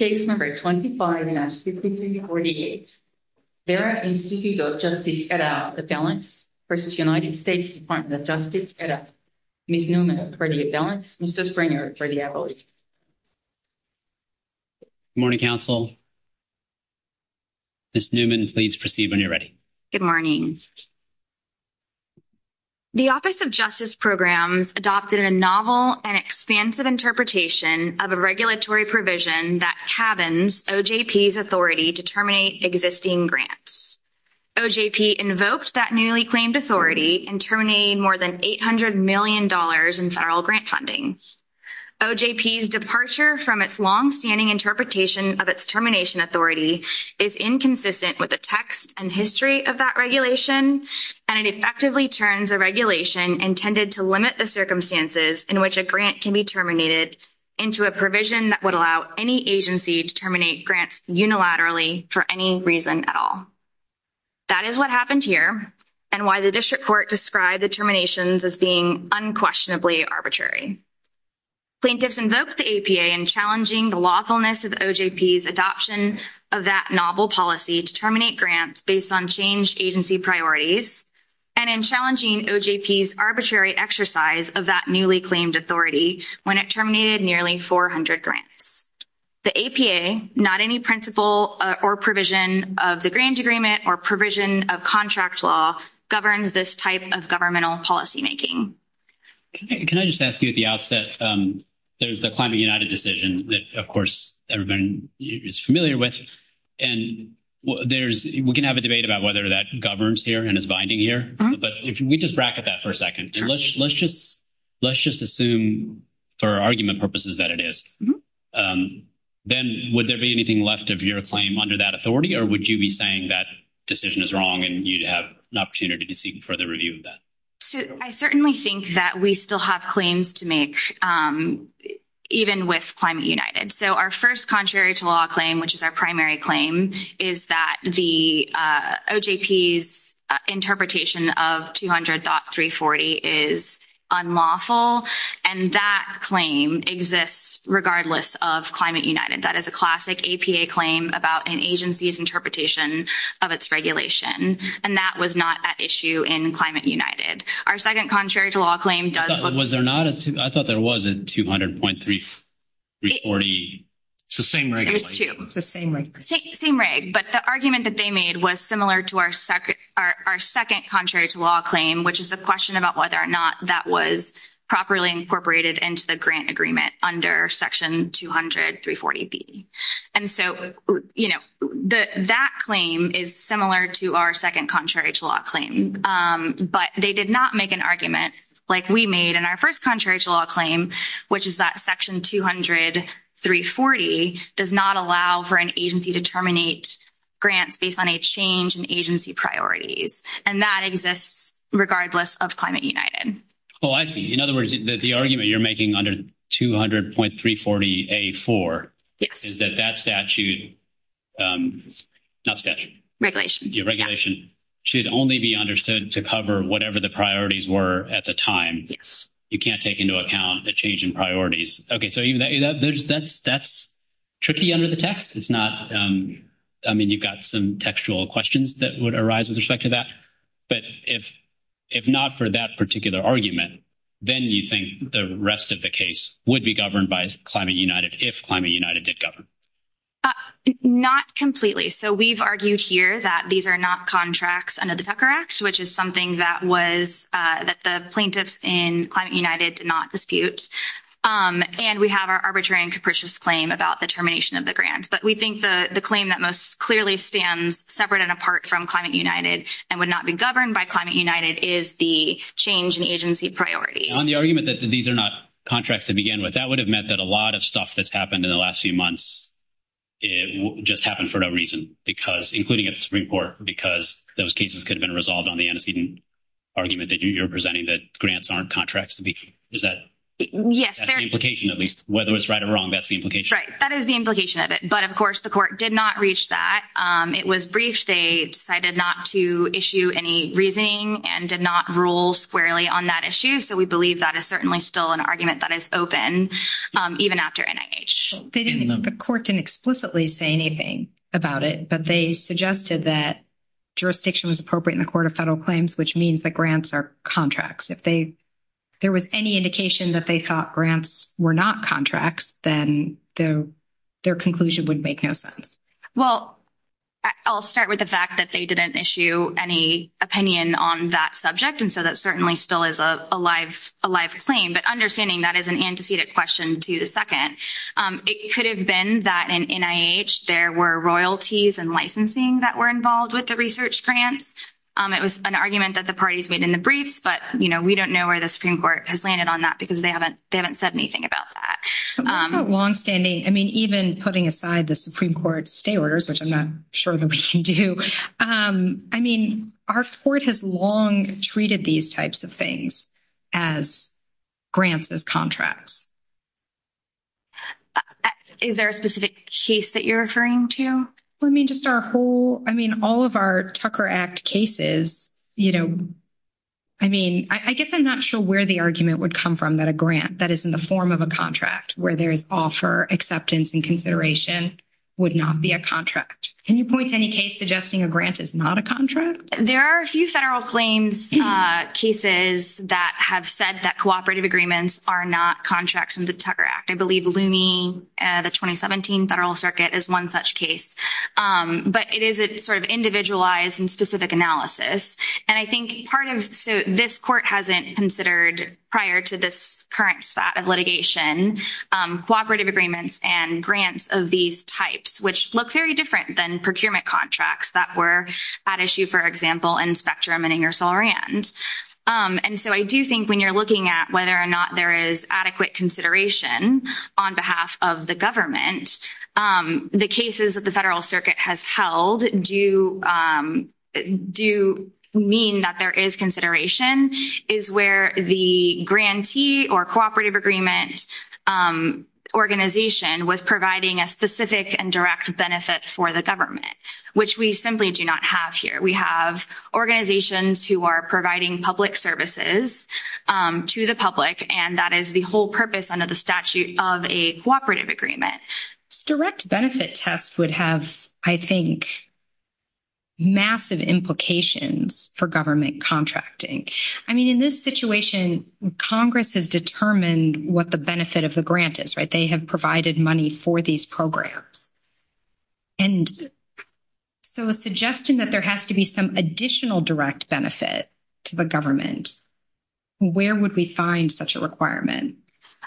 25-5348 Vera Institute of Justice et al. v. United States Department of Justice et al. Ms. Newman of Brady and Balance, Mr. Springer of Brady, I believe. Good morning, Council. Ms. Newman, please proceed when you're ready. Good morning. The Office of Justice Programs adopted a novel and expansive interpretation of a regulatory provision that cabins OJP's authority to terminate existing grants. OJP invoked that newly claimed authority in terminating more than $800 million in federal grant funding. OJP's departure from its longstanding interpretation of its termination authority is inconsistent with the text and history of that regulation, and it effectively turns a regulation intended to limit the circumstances in which a grant can be terminated into a provision that would allow any agency to terminate grants unilaterally for any reason at all. That is what happened here and why the District Court described the terminations as being unquestionably arbitrary. Plaintiffs invoked the APA in challenging the lawfulness of OJP's adoption of that novel policy to terminate grants based on changed agency priorities and in challenging OJP's arbitrary exercise of that newly claimed authority when it terminated nearly 400 grants. The APA, not any principle or provision of the grant agreement or provision of contract law, governs this type of governmental policymaking. Can I just ask you at the outset, there's the Climate United decision that, of course, everybody is familiar with, and we can have a debate about whether that governs here and but if we just bracket that for a second, let's just assume for argument purposes that it is, then would there be anything left of your claim under that authority or would you be saying that decision is wrong and you'd have an opportunity to seek further review of that? So I certainly think that we still have claims to make, even with Climate United. So our first law claim, which is our primary claim, is that the OJP's interpretation of 200.340 is unlawful and that claim exists regardless of Climate United. That is a classic APA claim about an agency's interpretation of its regulation and that was not at issue in Climate United. Our second contrary to law claim does... Was there not a... I thought there was a 200.340. It's the same reg. There's two. It's the same reg. Same reg, but the argument that they made was similar to our second contrary to law claim, which is a question about whether or not that was properly incorporated into the grant agreement under section 200.340B. And so, you know, that claim is similar to our second contrary to law claim, but they did not make an argument like we made in our first contrary to law claim, which is that section 200.340 does not allow for an agency to terminate grants based on a change in agency priorities, and that exists regardless of Climate United. Oh, I see. In other words, the argument you're making under 200.340A4 is that that statute... Not statute. Regulation. Your regulation should only be understood to cover whatever the priorities were at the time. You can't take into account a change in priorities. Okay, so that's tricky under the text. It's not... I mean, you've got some textual questions that would arise with respect to that, but if not for that particular argument, then you think the rest of the case would be governed by Climate United if Climate United did govern. Uh, not completely. So we've argued here that these are not contracts under the Tucker Act, which is something that the plaintiffs in Climate United did not dispute, and we have our arbitrary and capricious claim about the termination of the grants, but we think the claim that most clearly stands separate and apart from Climate United and would not be governed by Climate United is the change in agency priorities. On the argument that these are not contracts to begin with, that would have meant that a lot of the stuff that's happened in the last few months, it just happened for no reason, because, including at the Supreme Court, because those cases could have been resolved on the antecedent argument that you're presenting that grants aren't contracts to begin with. Is that... Yes, there... That's the implication, at least. Whether it's right or wrong, that's the implication. Right. That is the implication of it. But of course, the court did not reach that. Um, it was briefed. They decided not to issue any reasoning and did not rule squarely on that issue, so we believe that is certainly still an argument that is open, um, even after NIH. They didn't... The court didn't explicitly say anything about it, but they suggested that jurisdiction was appropriate in the Court of Federal Claims, which means that grants are contracts. If they... There was any indication that they thought grants were not contracts, then their conclusion would make no sense. Well, I'll start with the fact that they didn't issue any opinion on that subject, and so that certainly still is a live claim, but understanding that is an antecedent question to the second. It could have been that in NIH, there were royalties and licensing that were involved with the research grants. It was an argument that the parties made in the briefs, but, you know, we don't know where the Supreme Court has landed on that because they haven't said anything about that. What about longstanding? I mean, even putting aside the Supreme Court's stay orders, which I'm not sure that we can do, um, I mean, our court has long treated these types of things as grants as contracts. Is there a specific case that you're referring to? I mean, just our whole... I mean, all of our Tucker Act cases, you know, I mean, I guess I'm not sure where the argument would come from that a grant that is in the form of a Can you point to any case suggesting a grant is not a contract? There are a few federal claims, uh, cases that have said that cooperative agreements are not contracts in the Tucker Act. I believe Looney, uh, the 2017 Federal Circuit is one such case, um, but it is a sort of individualized and specific analysis, and I think part of... so this court hasn't considered prior to this current spat of litigation, um, cooperative agreements and grants of these types, which look very different than procurement contracts that were at issue, for example, in Spectrum and Ingersoll-Rand, um, and so I do think when you're looking at whether or not there is adequate consideration on behalf of the government, um, the cases that the Federal Circuit has held do, um, do mean that there is consideration is where the grantee or cooperative agreement, um, organization was providing a specific and direct benefit for the government, which we simply do not have here. We have organizations who are providing public services, um, to the public, and that is the whole purpose under the statute of a cooperative agreement. Direct benefit tests would have, I think, massive implications for government contracting. I mean, in this situation, Congress has determined what the benefit of the grant is, right? They have provided money for these programs, and so a suggestion that there has to be some additional direct benefit to the government, where would we find such a requirement?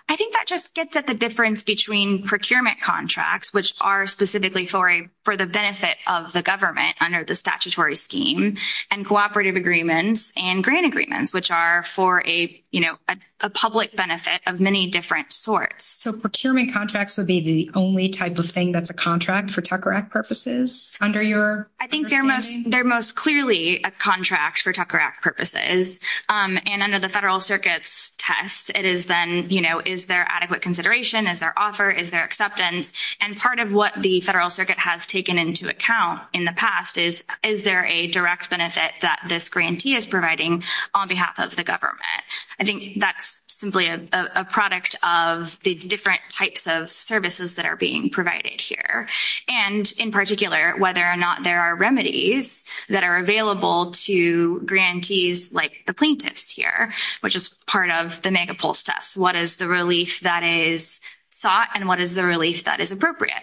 I think that just gets at the difference between procurement contracts, which are specifically for a, for the benefit of the government under the statutory scheme, and cooperative agreements and grant agreements, which are for a, you know, a public benefit of many different sorts. So, procurement contracts would be the only type of thing that's a contract for Tucker Act purposes under your understanding? I think they're most, they're most clearly a contract for Tucker Act purposes, um, and under the Federal Circuit's test, it is then, you know, is there adequate consideration? Is there offer? Is there acceptance? And part of what the Federal Circuit has taken into account in the past is, is there a direct benefit that this grantee is providing on behalf of the government? I think that's simply a, a product of the different types of services that are being provided here, and in particular, whether or not there are remedies that are to grantees like the plaintiffs here, which is part of the megapulse test. What is the relief that is sought, and what is the relief that is appropriate?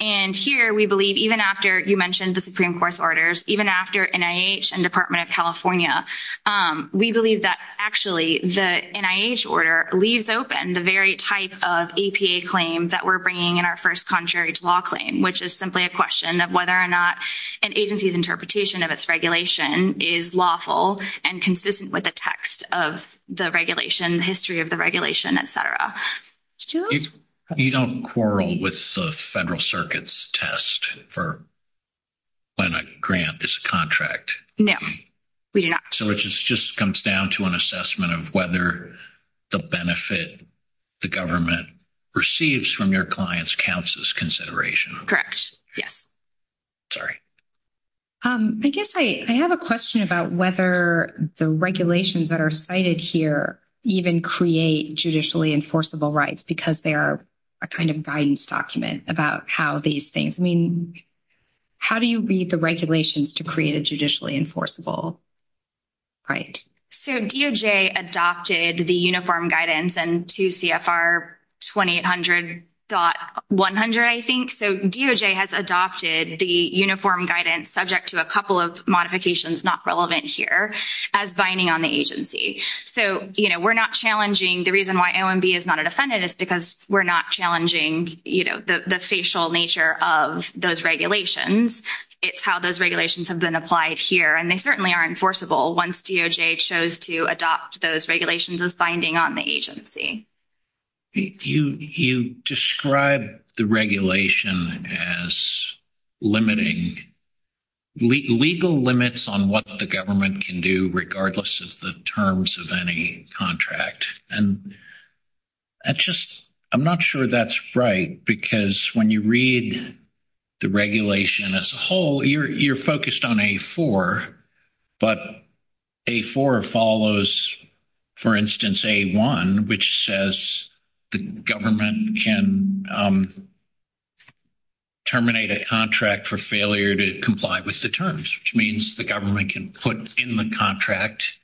And here, we believe even after, you mentioned the Supreme Court's orders, even after NIH and Department of California, um, we believe that actually the NIH order leaves open the very type of APA claim that we're bringing in our first contrary to law claim, which is simply a question of whether or not an agency's interpretation of its regulation is lawful and consistent with the text of the regulation, the history of the regulation, et cetera. You don't quarrel with the Federal Circuit's test for when a grant is a contract. No, we do not. So, it just comes down to an assessment of whether the benefit the government receives from your client's counts as consideration. Correct. Yes. Sorry. Um, I guess I have a question about whether the regulations that are cited here even create judicially enforceable rights because they are a kind of guidance document about how these things, I mean, how do you read the regulations to create a judicially enforceable right? So, DOJ adopted the uniform guidance in 2 CFR 2800.100, I think. So, DOJ has adopted the uniform guidance subject to a couple of modifications not relevant here as binding on the agency. So, you know, we're not challenging, the reason why OMB is not a defendant is because we're not challenging, you know, the facial nature of those regulations. It's how those regulations have been applied here. And they certainly are enforceable once DOJ chose to adopt those regulations as binding on the agency. You describe the regulation as limiting legal limits on what the government can do regardless of the terms of any contract. And I just, I'm not sure that's right because when you read the regulation as a whole, you're focused on A4, but A4 follows, for instance, A1, which says the government can terminate a contract for failure to comply with the terms, which means the government can put in the contract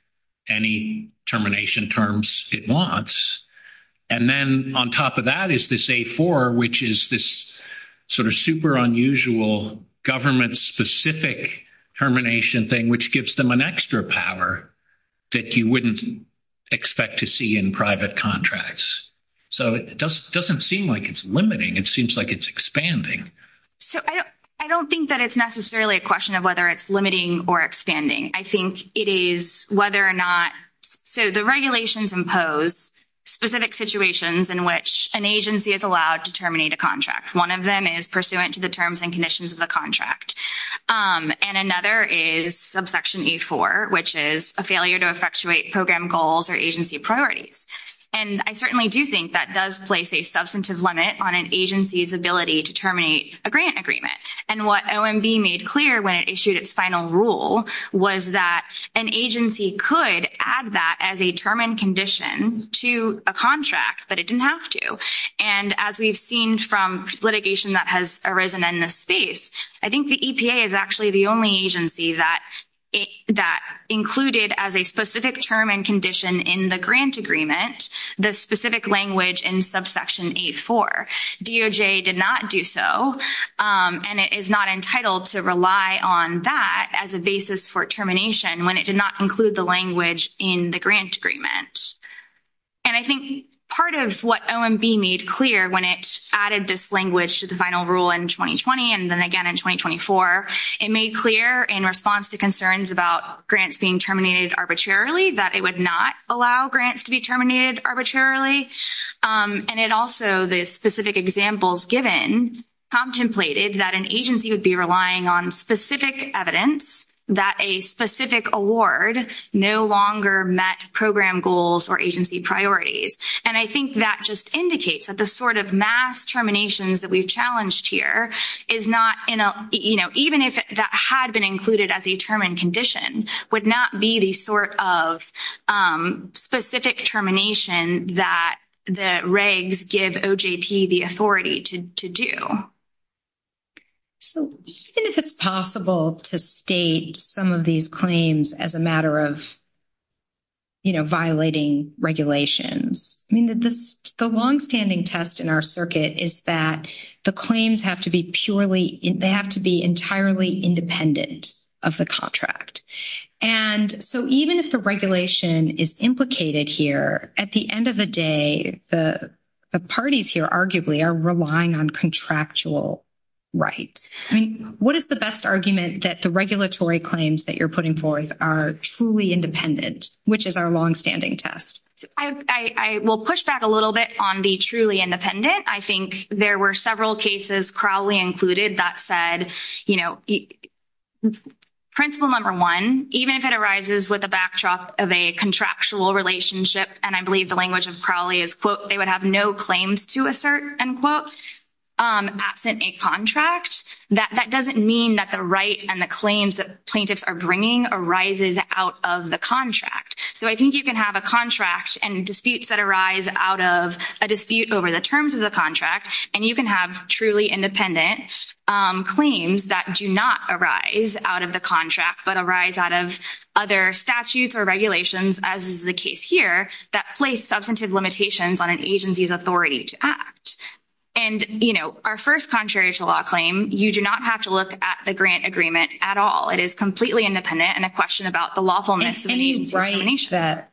any termination terms it wants. And then on top of that is this A4, which is this sort of super unusual government-specific termination thing, which gives them an extra power that you wouldn't expect to see in private contracts. So, it doesn't seem like it's limiting. It seems like it's expanding. So, I don't think that it's necessarily a question of whether it's limiting or expanding. I think it is whether or not, so the regulations impose specific situations in which an agency is allowed to terminate a contract. One of them is pursuant to the terms and conditions of the contract. And another is subsection A4, which is a failure to effectuate program goals or agency priorities. And I certainly do think that does place a substantive limit on an agency's ability to terminate a grant agreement. And what OMB made clear when it issued its final rule was that an agency could add that as a term and condition to a contract, but it didn't have to. And as we've seen from litigation that has arisen in this space, I think the EPA is actually the only agency that included as a specific term and condition in the grant agreement the specific language in subsection A4. DOJ did not do so. And it is not entitled to rely on that as a basis for termination when it did not include the language in the grant agreement. And I think part of what OMB made clear when it added this language to the final rule in 2020 and then again in 2024, it made clear in response to concerns about grants being terminated arbitrarily that it would not allow grants to be terminated arbitrarily. And it also, the specific examples given, contemplated that an agency would be relying on specific evidence that a specific award no longer met program goals or agency priorities. And I think that just indicates that the sort of mass terminations that we've challenged here is not, you know, even if that had been included as a term and condition, would not be the sort of specific termination that the regs give OJP the authority to do. So, even if it's possible to state some of these claims as a matter of, you know, violating regulations, I mean, the longstanding test in our circuit is that the claims have to be purely, they have to be entirely independent of the contract. And so, even if the regulation is implicated here, at the end of the day, the parties here arguably are relying on contractual rights. I mean, what is the best argument that the regulatory claims that you're putting forth are truly independent, which is our longstanding test? I will push back a little bit on the truly independent. I think there were several cases, Crowley included, that said, you know, principle number one, even if it arises with the backdrop of a contractual relationship, and I believe the language of Crowley is, quote, they would have no claims to assert, end quote, absent a contract, that doesn't mean that the right and the claims that plaintiffs are bringing arises out of the contract. So, I think you can have a contract and disputes that arise out of a dispute over the terms of the contract, and you can have truly independent claims that do not arise out of the contract, but arise out of other statutes or regulations, as is the case here, that place substantive limitations on an agency's authority to act. And, you know, our first contrarial law claim, you do not have to look at the grant agreement at all. It is completely independent and a question about the lawfulness of the agency's determination.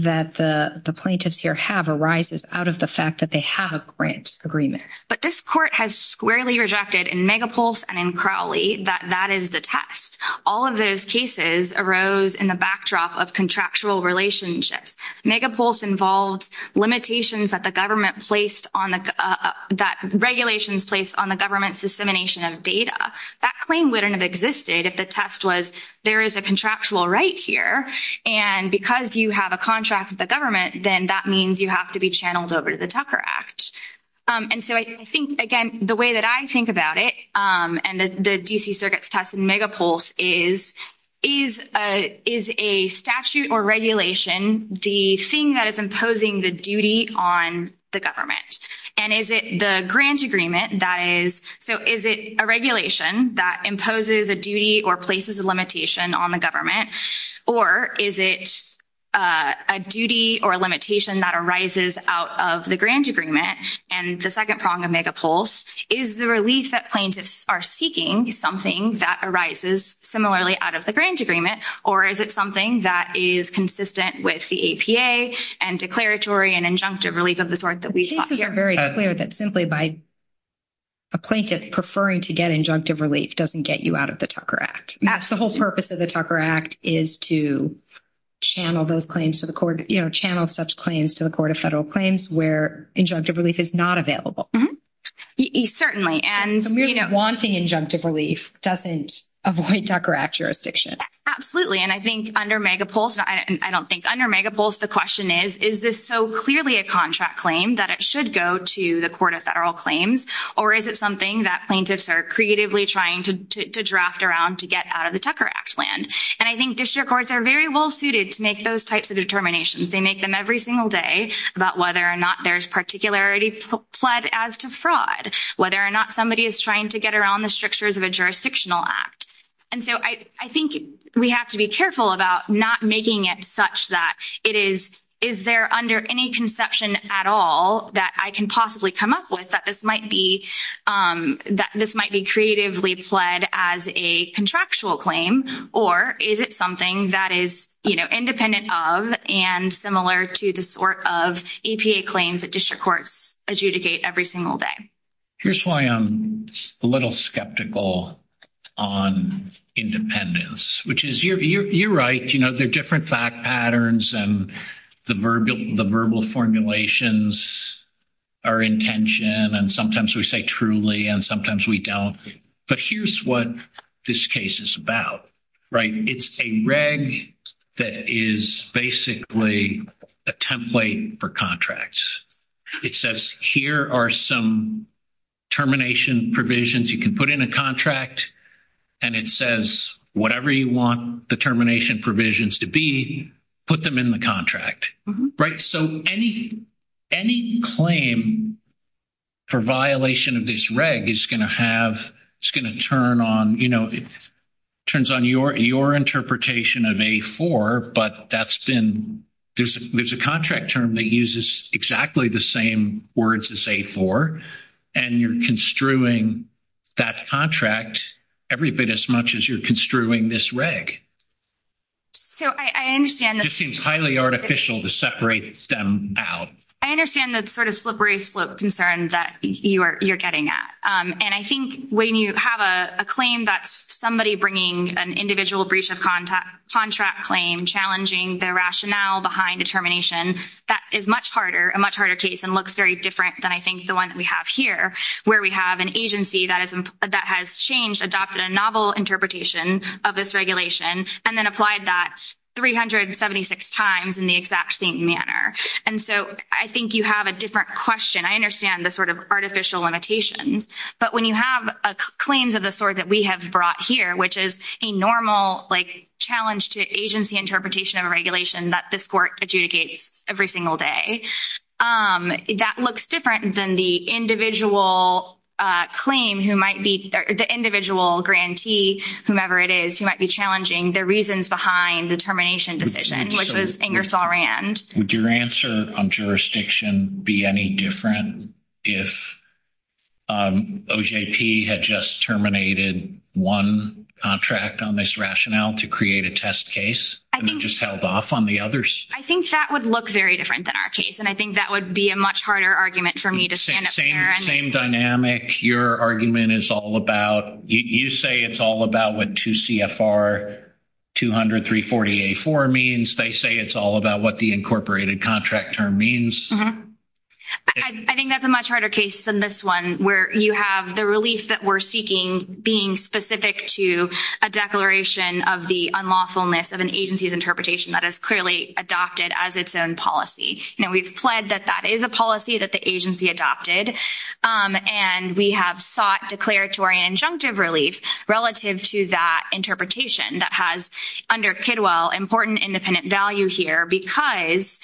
That the plaintiffs here have arises out of the fact that they have a grant agreement. But this court has squarely rejected in Megapulse and in Crowley that that is the test. All of those cases arose in the backdrop of contractual relationships. Megapulse involved limitations that the government placed on the, that regulations placed on the government's dissemination of data. That claim wouldn't have existed if the test was, there is a contractual right here, and because you have a contract with the government, then that means you have to be channeled over to the Tucker Act. And so I think, again, the way that I think about it, and the D.C. Circuit's test in Megapulse is, is a statute or regulation the thing that is imposing the duty on the government? And is it the grant agreement that is, so is it a regulation that imposes a duty or places a limitation on the government? Or is it a duty or a limitation that arises out of the grant agreement? And the second prong of Megapulse, is the relief that plaintiffs are seeking something that arises similarly out of the grant agreement? Or is it something that is consistent with the APA and declaratory and injunctive relief of the sort that we saw here? The cases are very clear that simply by a plaintiff preferring to get injunctive relief doesn't get you out of the Tucker Act. The whole purpose of the Tucker Act is to channel those claims to the court, channel such claims to the Court of Federal Claims where injunctive relief is not available. And merely wanting injunctive relief doesn't avoid Tucker Act jurisdiction. Absolutely. And I think under Megapulse, I don't think under Megapulse, the question is, is this so clearly a contract claim that it should go to the Court of Federal Claims? Or is it something that plaintiffs are creatively trying to draft around to get out of the Tucker Act land? And I think district courts are very well suited to make those types of determinations. They make them every single day about whether or not there's particularity pled as to fraud, whether or not somebody is trying to get around the strictures of a jurisdictional act. And so I think we have to be careful about not making it such that it is, is there under any conception at all that I can possibly come up with that this might be, that this might be creatively pled as a contractual claim? Or is it something that is, you know, independent of and similar to the sort of EPA claims that district courts adjudicate every single day? Here's why I'm a little skeptical on independence, which is you're right. There are different fact patterns and the verbal formulations are in tension. And sometimes we say truly, and sometimes we don't. But here's what this case is about, right? It's a reg that is basically a template for contracts. It says, here are some termination provisions. You can put in a contract and it says, whatever you want the termination provisions to be, put them in the contract, right? So any claim for violation of this reg is going to have, it's going to turn on, you know, turns on your interpretation of A4, but that's been, there's a contract term that uses exactly the same words as A4 and you're construing that contract every bit as much as you're construing this reg. So I understand. It just seems highly artificial to separate them out. I understand that sort of slippery slope concern that you're getting at. And I think when you have a claim that's somebody bringing an individual breach of contract claim, challenging the rationale behind a termination, that is much harder, a much harder case and looks very different than I think the one that we have here, where we have an agency that has changed, adopted a novel interpretation of this regulation, and then applied that 376 times in the exact same manner. And so I think you have a different question. I understand the sort of artificial limitations. But when you have claims of the sort that we have brought here, which is a normal, like, challenge to agency interpretation of a regulation that this court adjudicates every single day, that looks different than the individual claim who might be, the individual grantee, whomever it is, who might be challenging the reasons behind the termination decision, which was Ingersoll-Rand. Would your answer on jurisdiction be any different if OJP had just terminated one contract on this rationale to create a test case and then just held off on the others? I think that would look very different than our case. And I think that would be a much harder argument for me to stand up here and— Same dynamic. Your argument is all about, you say it's all about what 2 CFR 200-340-A4 means. They say it's all about what the incorporated contract term means. I think that's a much harder case than this one, where you have the relief that we're seeking being specific to a declaration of the unlawfulness of an agency's interpretation that is clearly adopted as its own policy. We've pled that that is a policy that the agency adopted, and we have sought declaratory and injunctive relief relative to that interpretation that has, under Kidwell, important independent value here because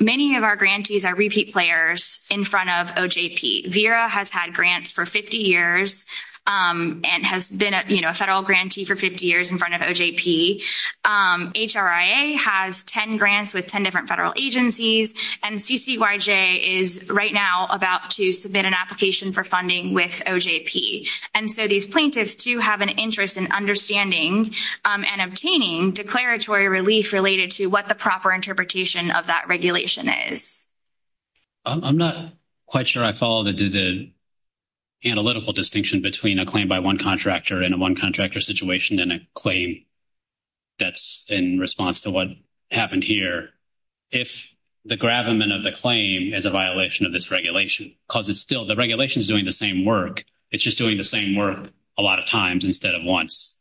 many of our grantees are repeat players in front of OJP. VERA has had grants for 50 years and has been a federal grantee for 50 years in front of OJP. HRIA has 10 grants with 10 different federal agencies. And CCYJ is right now about to submit an application for funding with OJP. And so these plaintiffs, too, have an interest in understanding and obtaining declaratory relief related to what the proper interpretation of that regulation is. I'm not quite sure I follow the analytical distinction between a claim by one contractor and a one contractor situation in a claim that's in response to what happened here. If the gravamen of the claim is a violation of this regulation, because it's still the regulation is doing the same work. It's just doing the same work a lot of times instead of once.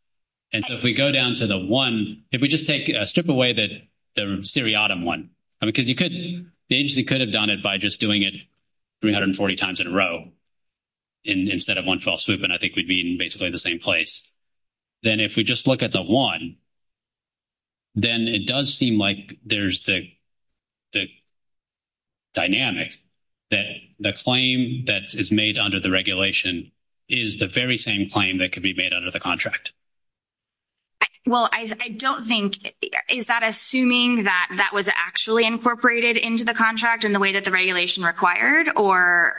And so if we go down to the one, if we just take a strip away that the seriatim one, because you could, the agency could have done it by just doing it 340 times in a row instead of one fell swoop, and I think we'd be in basically the same place. Then if we just look at the one, then it does seem like there's the dynamic that the claim that is made under the regulation is the very same claim that could be made under the contract. Well, I don't think, is that assuming that that was actually incorporated into the contract in the way that the regulation required or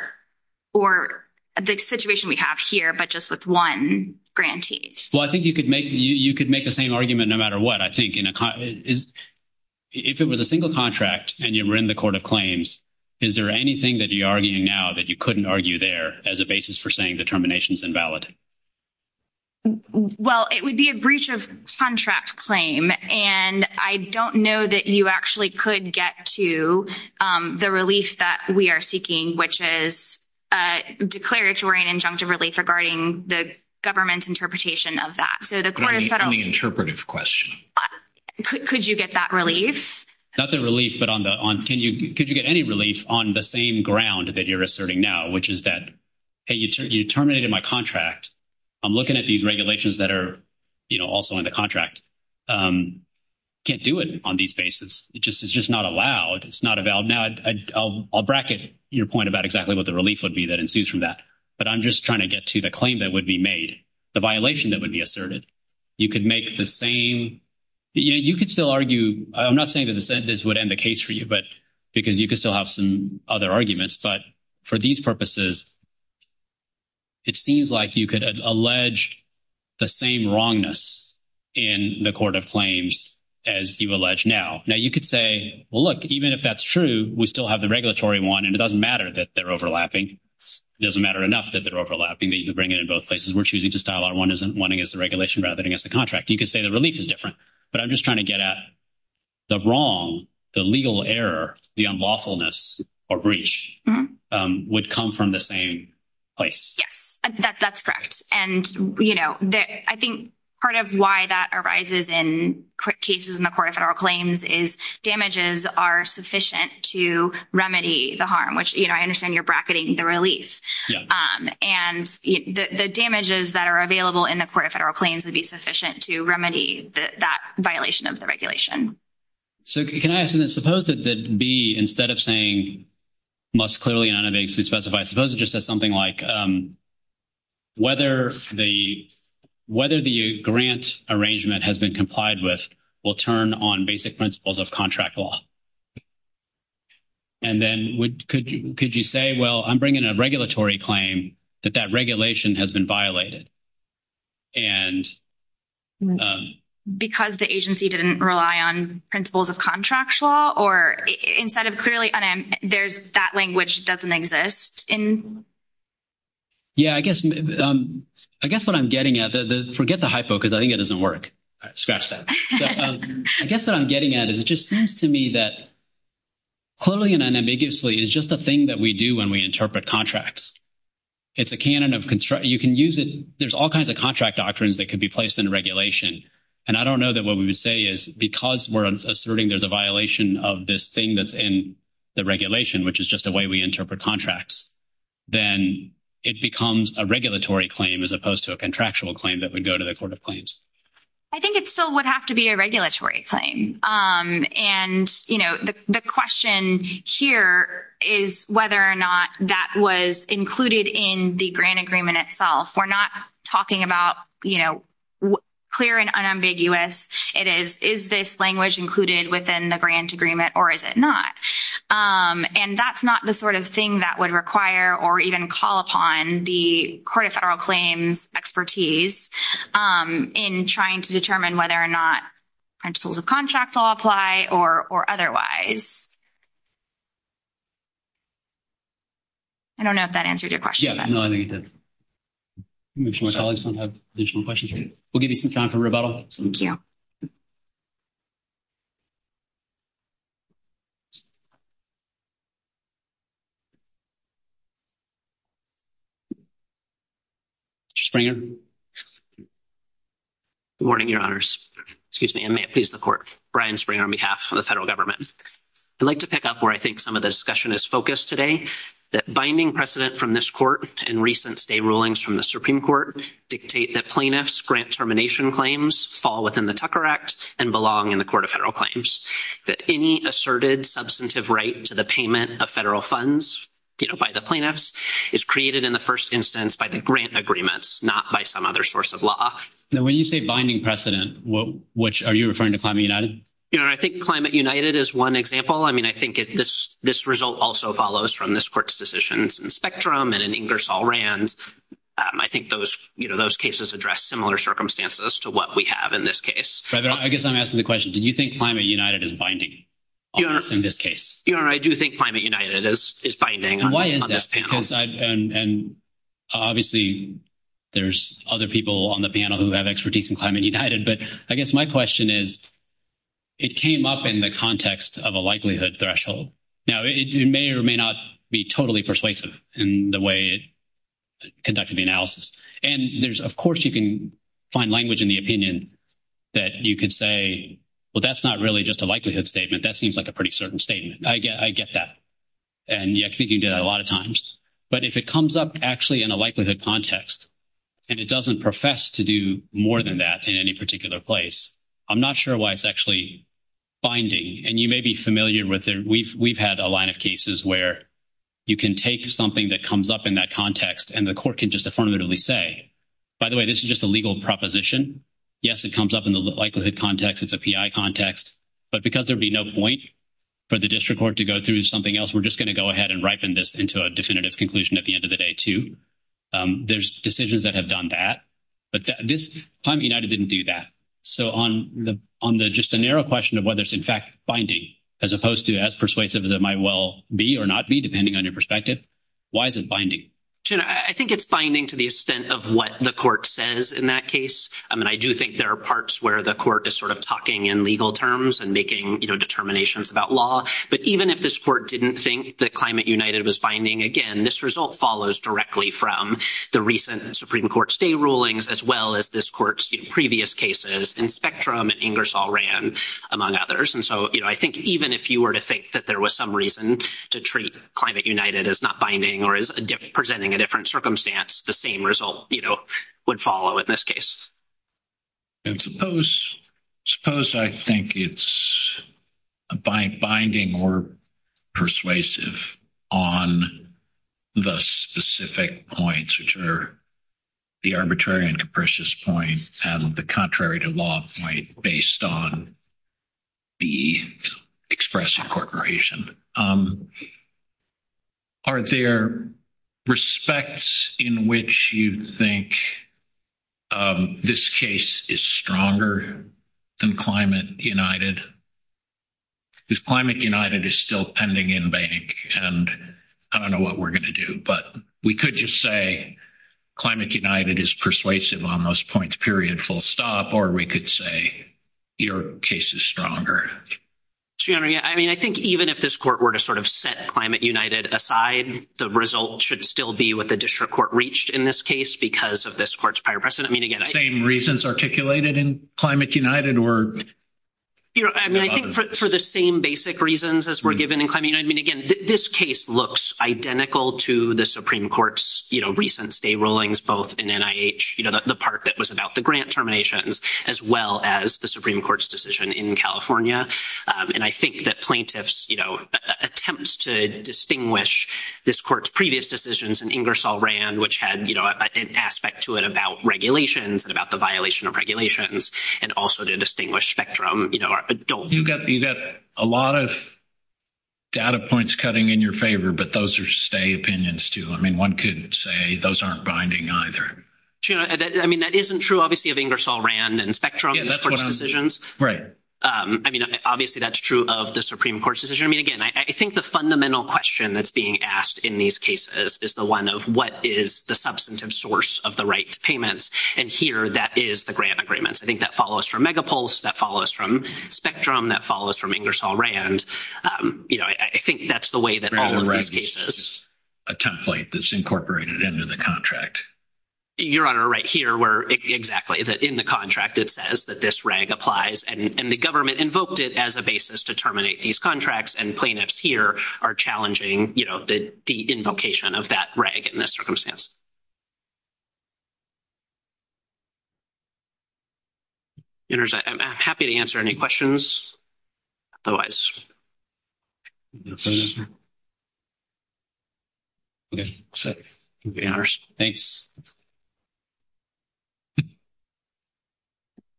the situation we have here, but just with one grantee? Well, I think you could make the same argument no matter what. I think if it was a single contract and you were in the court of claims, is there anything that you're arguing now that you couldn't argue there as a basis for saying the termination is invalid? Well, it would be a breach of contract claim, and I don't know that you actually could get to the relief that we are seeking, which is a declaratory and injunctive relief regarding the government's interpretation of that. So the court of federal- Any interpretive question. Could you get that relief? Not the relief, but could you get any relief on the same ground that you're asserting now, which is that, hey, you terminated my contract. I'm looking at these regulations that are also in the contract. Can't do it on these basis. It's just not allowed. It's not a valid. Now, I'll bracket your point about exactly what the relief would be that ensues from that. But I'm just trying to get to the claim that would be made, the violation that would be asserted. You could make the same, you could still argue. I'm not saying that this would end the case for you, but because you could still have some other arguments. But for these purposes, it seems like you could allege the same wrongness in the court of claims as you allege now. Now, you could say, well, look, even if that's true, we still have the regulatory one, and it doesn't matter that they're overlapping. It doesn't matter enough that they're overlapping that you could bring it in both places. We're choosing to style our one against the regulation rather than against the contract. You could say the relief is different, but I'm just trying to get at the wrong, the legal error, the unlawfulness or breach would come from the same place. Yes, that's correct. And I think part of why that arises in quick cases in the court of federal claims is damages are sufficient to remedy the harm, which I understand you're bracketing the relief. And the damages that are available in the court of federal claims would be sufficient to remedy that violation of the regulation. So can I ask you this? Suppose that B, instead of saying must clearly and unambiguously specify, suppose it just says something like whether the grant arrangement has been complied with will turn on basic principles of contract law. And then could you say, well, I'm bringing a regulatory claim that that regulation has been violated. Because the agency didn't rely on principles of contract law or instead of clearly unambiguously, there's that language doesn't exist in? Yeah, I guess what I'm getting at, forget the hypo because I think it doesn't work. Scratch that. So I guess what I'm getting at is it just seems to me that clearly and unambiguously is just a thing that we do when we interpret contracts. It's a canon of construct. You can use it. There's all kinds of contract doctrines that could be placed in regulation. And I don't know that what we would say is because we're asserting there's a violation of this thing that's in the regulation, which is just the way we interpret contracts, then it becomes a regulatory claim as opposed to a contractual claim that would go to the court of claims. I think it still would have to be a regulatory claim. And the question here is whether or not that was included in the grant agreement itself. We're not talking about clear and unambiguous. It is, is this language included within the grant agreement or is it not? And that's not the sort of thing that would require or even call upon the Court of Federal Claims expertise in trying to determine whether or not principles of contract law apply or otherwise. I don't know if that answered your question. Yeah, no, I think it did. I'm going to make sure my colleagues don't have additional questions. We'll give you some time for rebuttal. Thank you. Mr. Springer. Good morning, Your Honors. Excuse me. I may have pleased the Court. Brian Springer on behalf of the federal government. I'd like to pick up where I think some of the discussion is focused today, that binding precedent from this court and recent state rulings from the Supreme Court dictate that plaintiffs' grant termination claims fall within the Tucker Act and belong in the Court of Federal Claims, that any asserted substantive right to the payment of federal funds by the plaintiffs is created in the first instance by the grant agreements, not by some other source of law. Now, when you say binding precedent, are you referring to Climate United? Your Honor, I think Climate United is one example. I mean, I think this result also follows from this Court's decisions in Spectrum and in Ingersoll-Rand. I think those cases address similar circumstances to what we have in this case. But I guess I'm asking the question, do you think Climate United is binding in this case? Your Honor, I do think Climate United is binding on this panel. And obviously, there's other people on the panel who have expertise in Climate United. But I guess my question is, it came up in the context of a likelihood threshold. Now, it may or may not be totally persuasive in the way it conducted the analysis. And there's, of course, you can find language in the opinion that you could say, well, that's not really just a likelihood statement. That seems like a pretty certain statement. I get that. And I think you get that a lot of times. But if it comes up actually in a likelihood context, and it doesn't profess to do more than that in any particular place, I'm not sure why it's actually binding. And you may be familiar with it. We've had a line of cases where you can take something that comes up in that context, and the Court can just affirmatively say, by the way, this is just a legal proposition. Yes, it comes up in the likelihood context. It's a PI context. But because there'd be no point for the district court to go through something else, we're just going to go ahead and ripen this into a definitive conclusion at the end of the day, too. There's decisions that have done that. But this time, United didn't do that. So on the just a narrow question of whether it's, in fact, binding, as opposed to as persuasive as it might well be or not be, depending on your perspective, why is it binding? I think it's binding to the extent of what the Court says in that case. I do think there are parts where the Court is sort of talking in legal terms and making determinations about law. But even if this Court didn't think that Climate United was binding, again, this result follows directly from the recent Supreme Court stay rulings, as well as this Court's previous cases in Spectrum and Ingersoll-Rand, among others. And so I think even if you were to think that there was some reason to treat Climate United as not binding or as presenting a different circumstance, the same result would follow in this case. And suppose I think it's binding or persuasive on the specific points, which are the arbitrary and capricious point and the contrary to law point based on the express incorporation. Are there respects in which you think this case is stronger than Climate United? Because Climate United is still pending in bank, and I don't know what we're going to do. But we could just say Climate United is persuasive on those points, period, full stop. Or we could say your case is stronger. Gianna, I mean, I think even if this Court were to sort of set Climate United aside, the result should still be what the District Court reached in this case because of this Court's prior precedent. I mean, again, I think... Same reasons articulated in Climate United were... I mean, I think for the same basic reasons as were given in Climate United. I mean, again, this case looks identical to the Supreme Court's, you know, recent stay rulings, both in NIH, you know, the part that was about the grant terminations, as well as the Supreme Court's decision in California. And I think that plaintiffs, you know, attempts to distinguish this Court's previous decisions and Ingersoll-Rand, which had, you know, an aspect to it about regulations and about the violation of regulations, and also to distinguish spectrum, you know, adult... You got a lot of data points cutting in your favor, but those are stay opinions too. I mean, one could say those aren't binding either. You know, I mean, that isn't true, obviously, of Ingersoll-Rand and spectrum Court's decisions. Right. I mean, obviously, that's true of the Supreme Court's decision. I mean, again, I think the fundamental question that's being asked in these cases is the one of what is the substantive source of the right to payments. And here, that is the grant agreements. I think that follows from Megapulse, that follows from Spectrum, that follows from Ingersoll-Rand. You know, I think that's the way that all of these cases... A template that's incorporated into the contract. Your Honor, right here, where exactly, that in the contract, it says that this reg applies, and the government invoked it as a basis to terminate these contracts, and plaintiffs here are challenging, you know, the invocation of that reg in this circumstance. Ingersoll, I'm happy to answer any questions. Okay. Thanks. Thank you.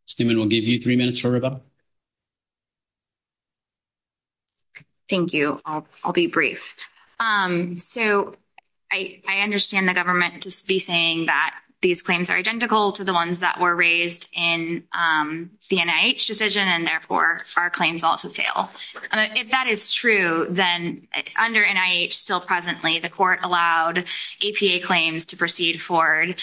Steman, we'll give you three minutes for rebuttal. Thank you. I'll be brief. So, I understand the government just be saying that these claims are identical to the ones that were raised in the NIH decision, and therefore, our claims also fail. If that is true, then under NIH, still presently, the court allowed APA claims to proceed forward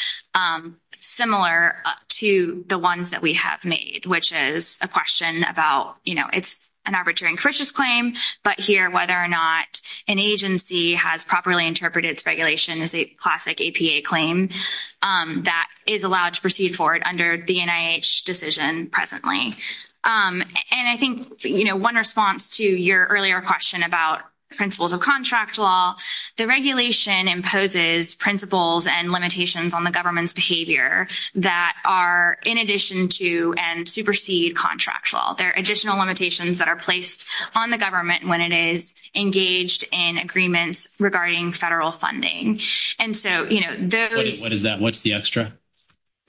similar to the ones that we have made, which is a question about, you know, it's an arbitrary and capricious claim, but here, whether or not an agency has properly interpreted its regulation as a classic APA claim, that is allowed to proceed forward under the NIH decision presently. And I think, you know, one response to your earlier question about principles of contract law, the regulation imposes principles and limitations on the government's behavior that are in addition to and supersede contract law. There are additional limitations that are placed on the government when it is engaged in agreements regarding federal funding. And so, you know, those— What is that? What's the extra?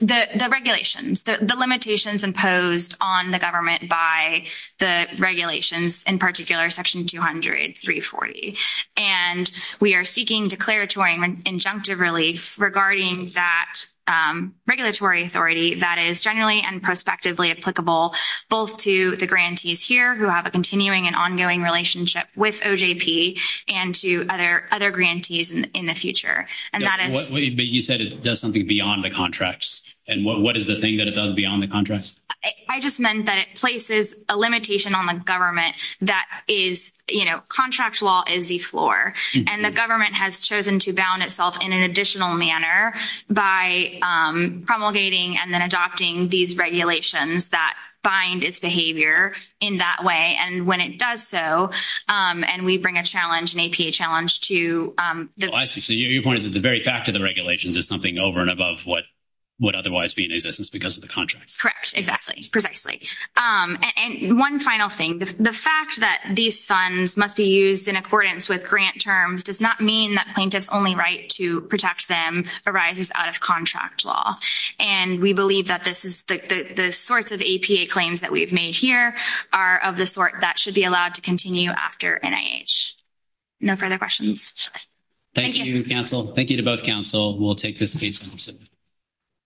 The regulations. The limitations imposed on the government by the regulations, in particular, Section 200, 340. And we are seeking declaratory and injunctive relief regarding that regulatory authority that is generally and prospectively applicable both to the grantees here, who have a continuing and ongoing relationship with OJP, and to other grantees in the future. And that is— But you said it does something beyond the contracts. And what is the thing that it does beyond the contracts? I just meant that it places a limitation on the government that is, you know, contract law is the floor. And the government has chosen to bound itself in an additional manner by promulgating and then adopting these regulations that bind its behavior in that way. And when it does so, and we bring a challenge, an APA challenge to the— Oh, I see. So your point is that the very fact of the regulations is something over and above what would otherwise be in existence because of the contracts. Correct. Exactly. Precisely. And one final thing. The fact that these funds must be used in accordance with grant terms does not mean that plaintiff's only right to protect them arises out of contract law. And we believe that this is— that the sorts of APA claims that we've made here are of the sort that should be allowed to continue after NIH. No further questions. Thank you, counsel. Thank you to both counsel. We'll take this case.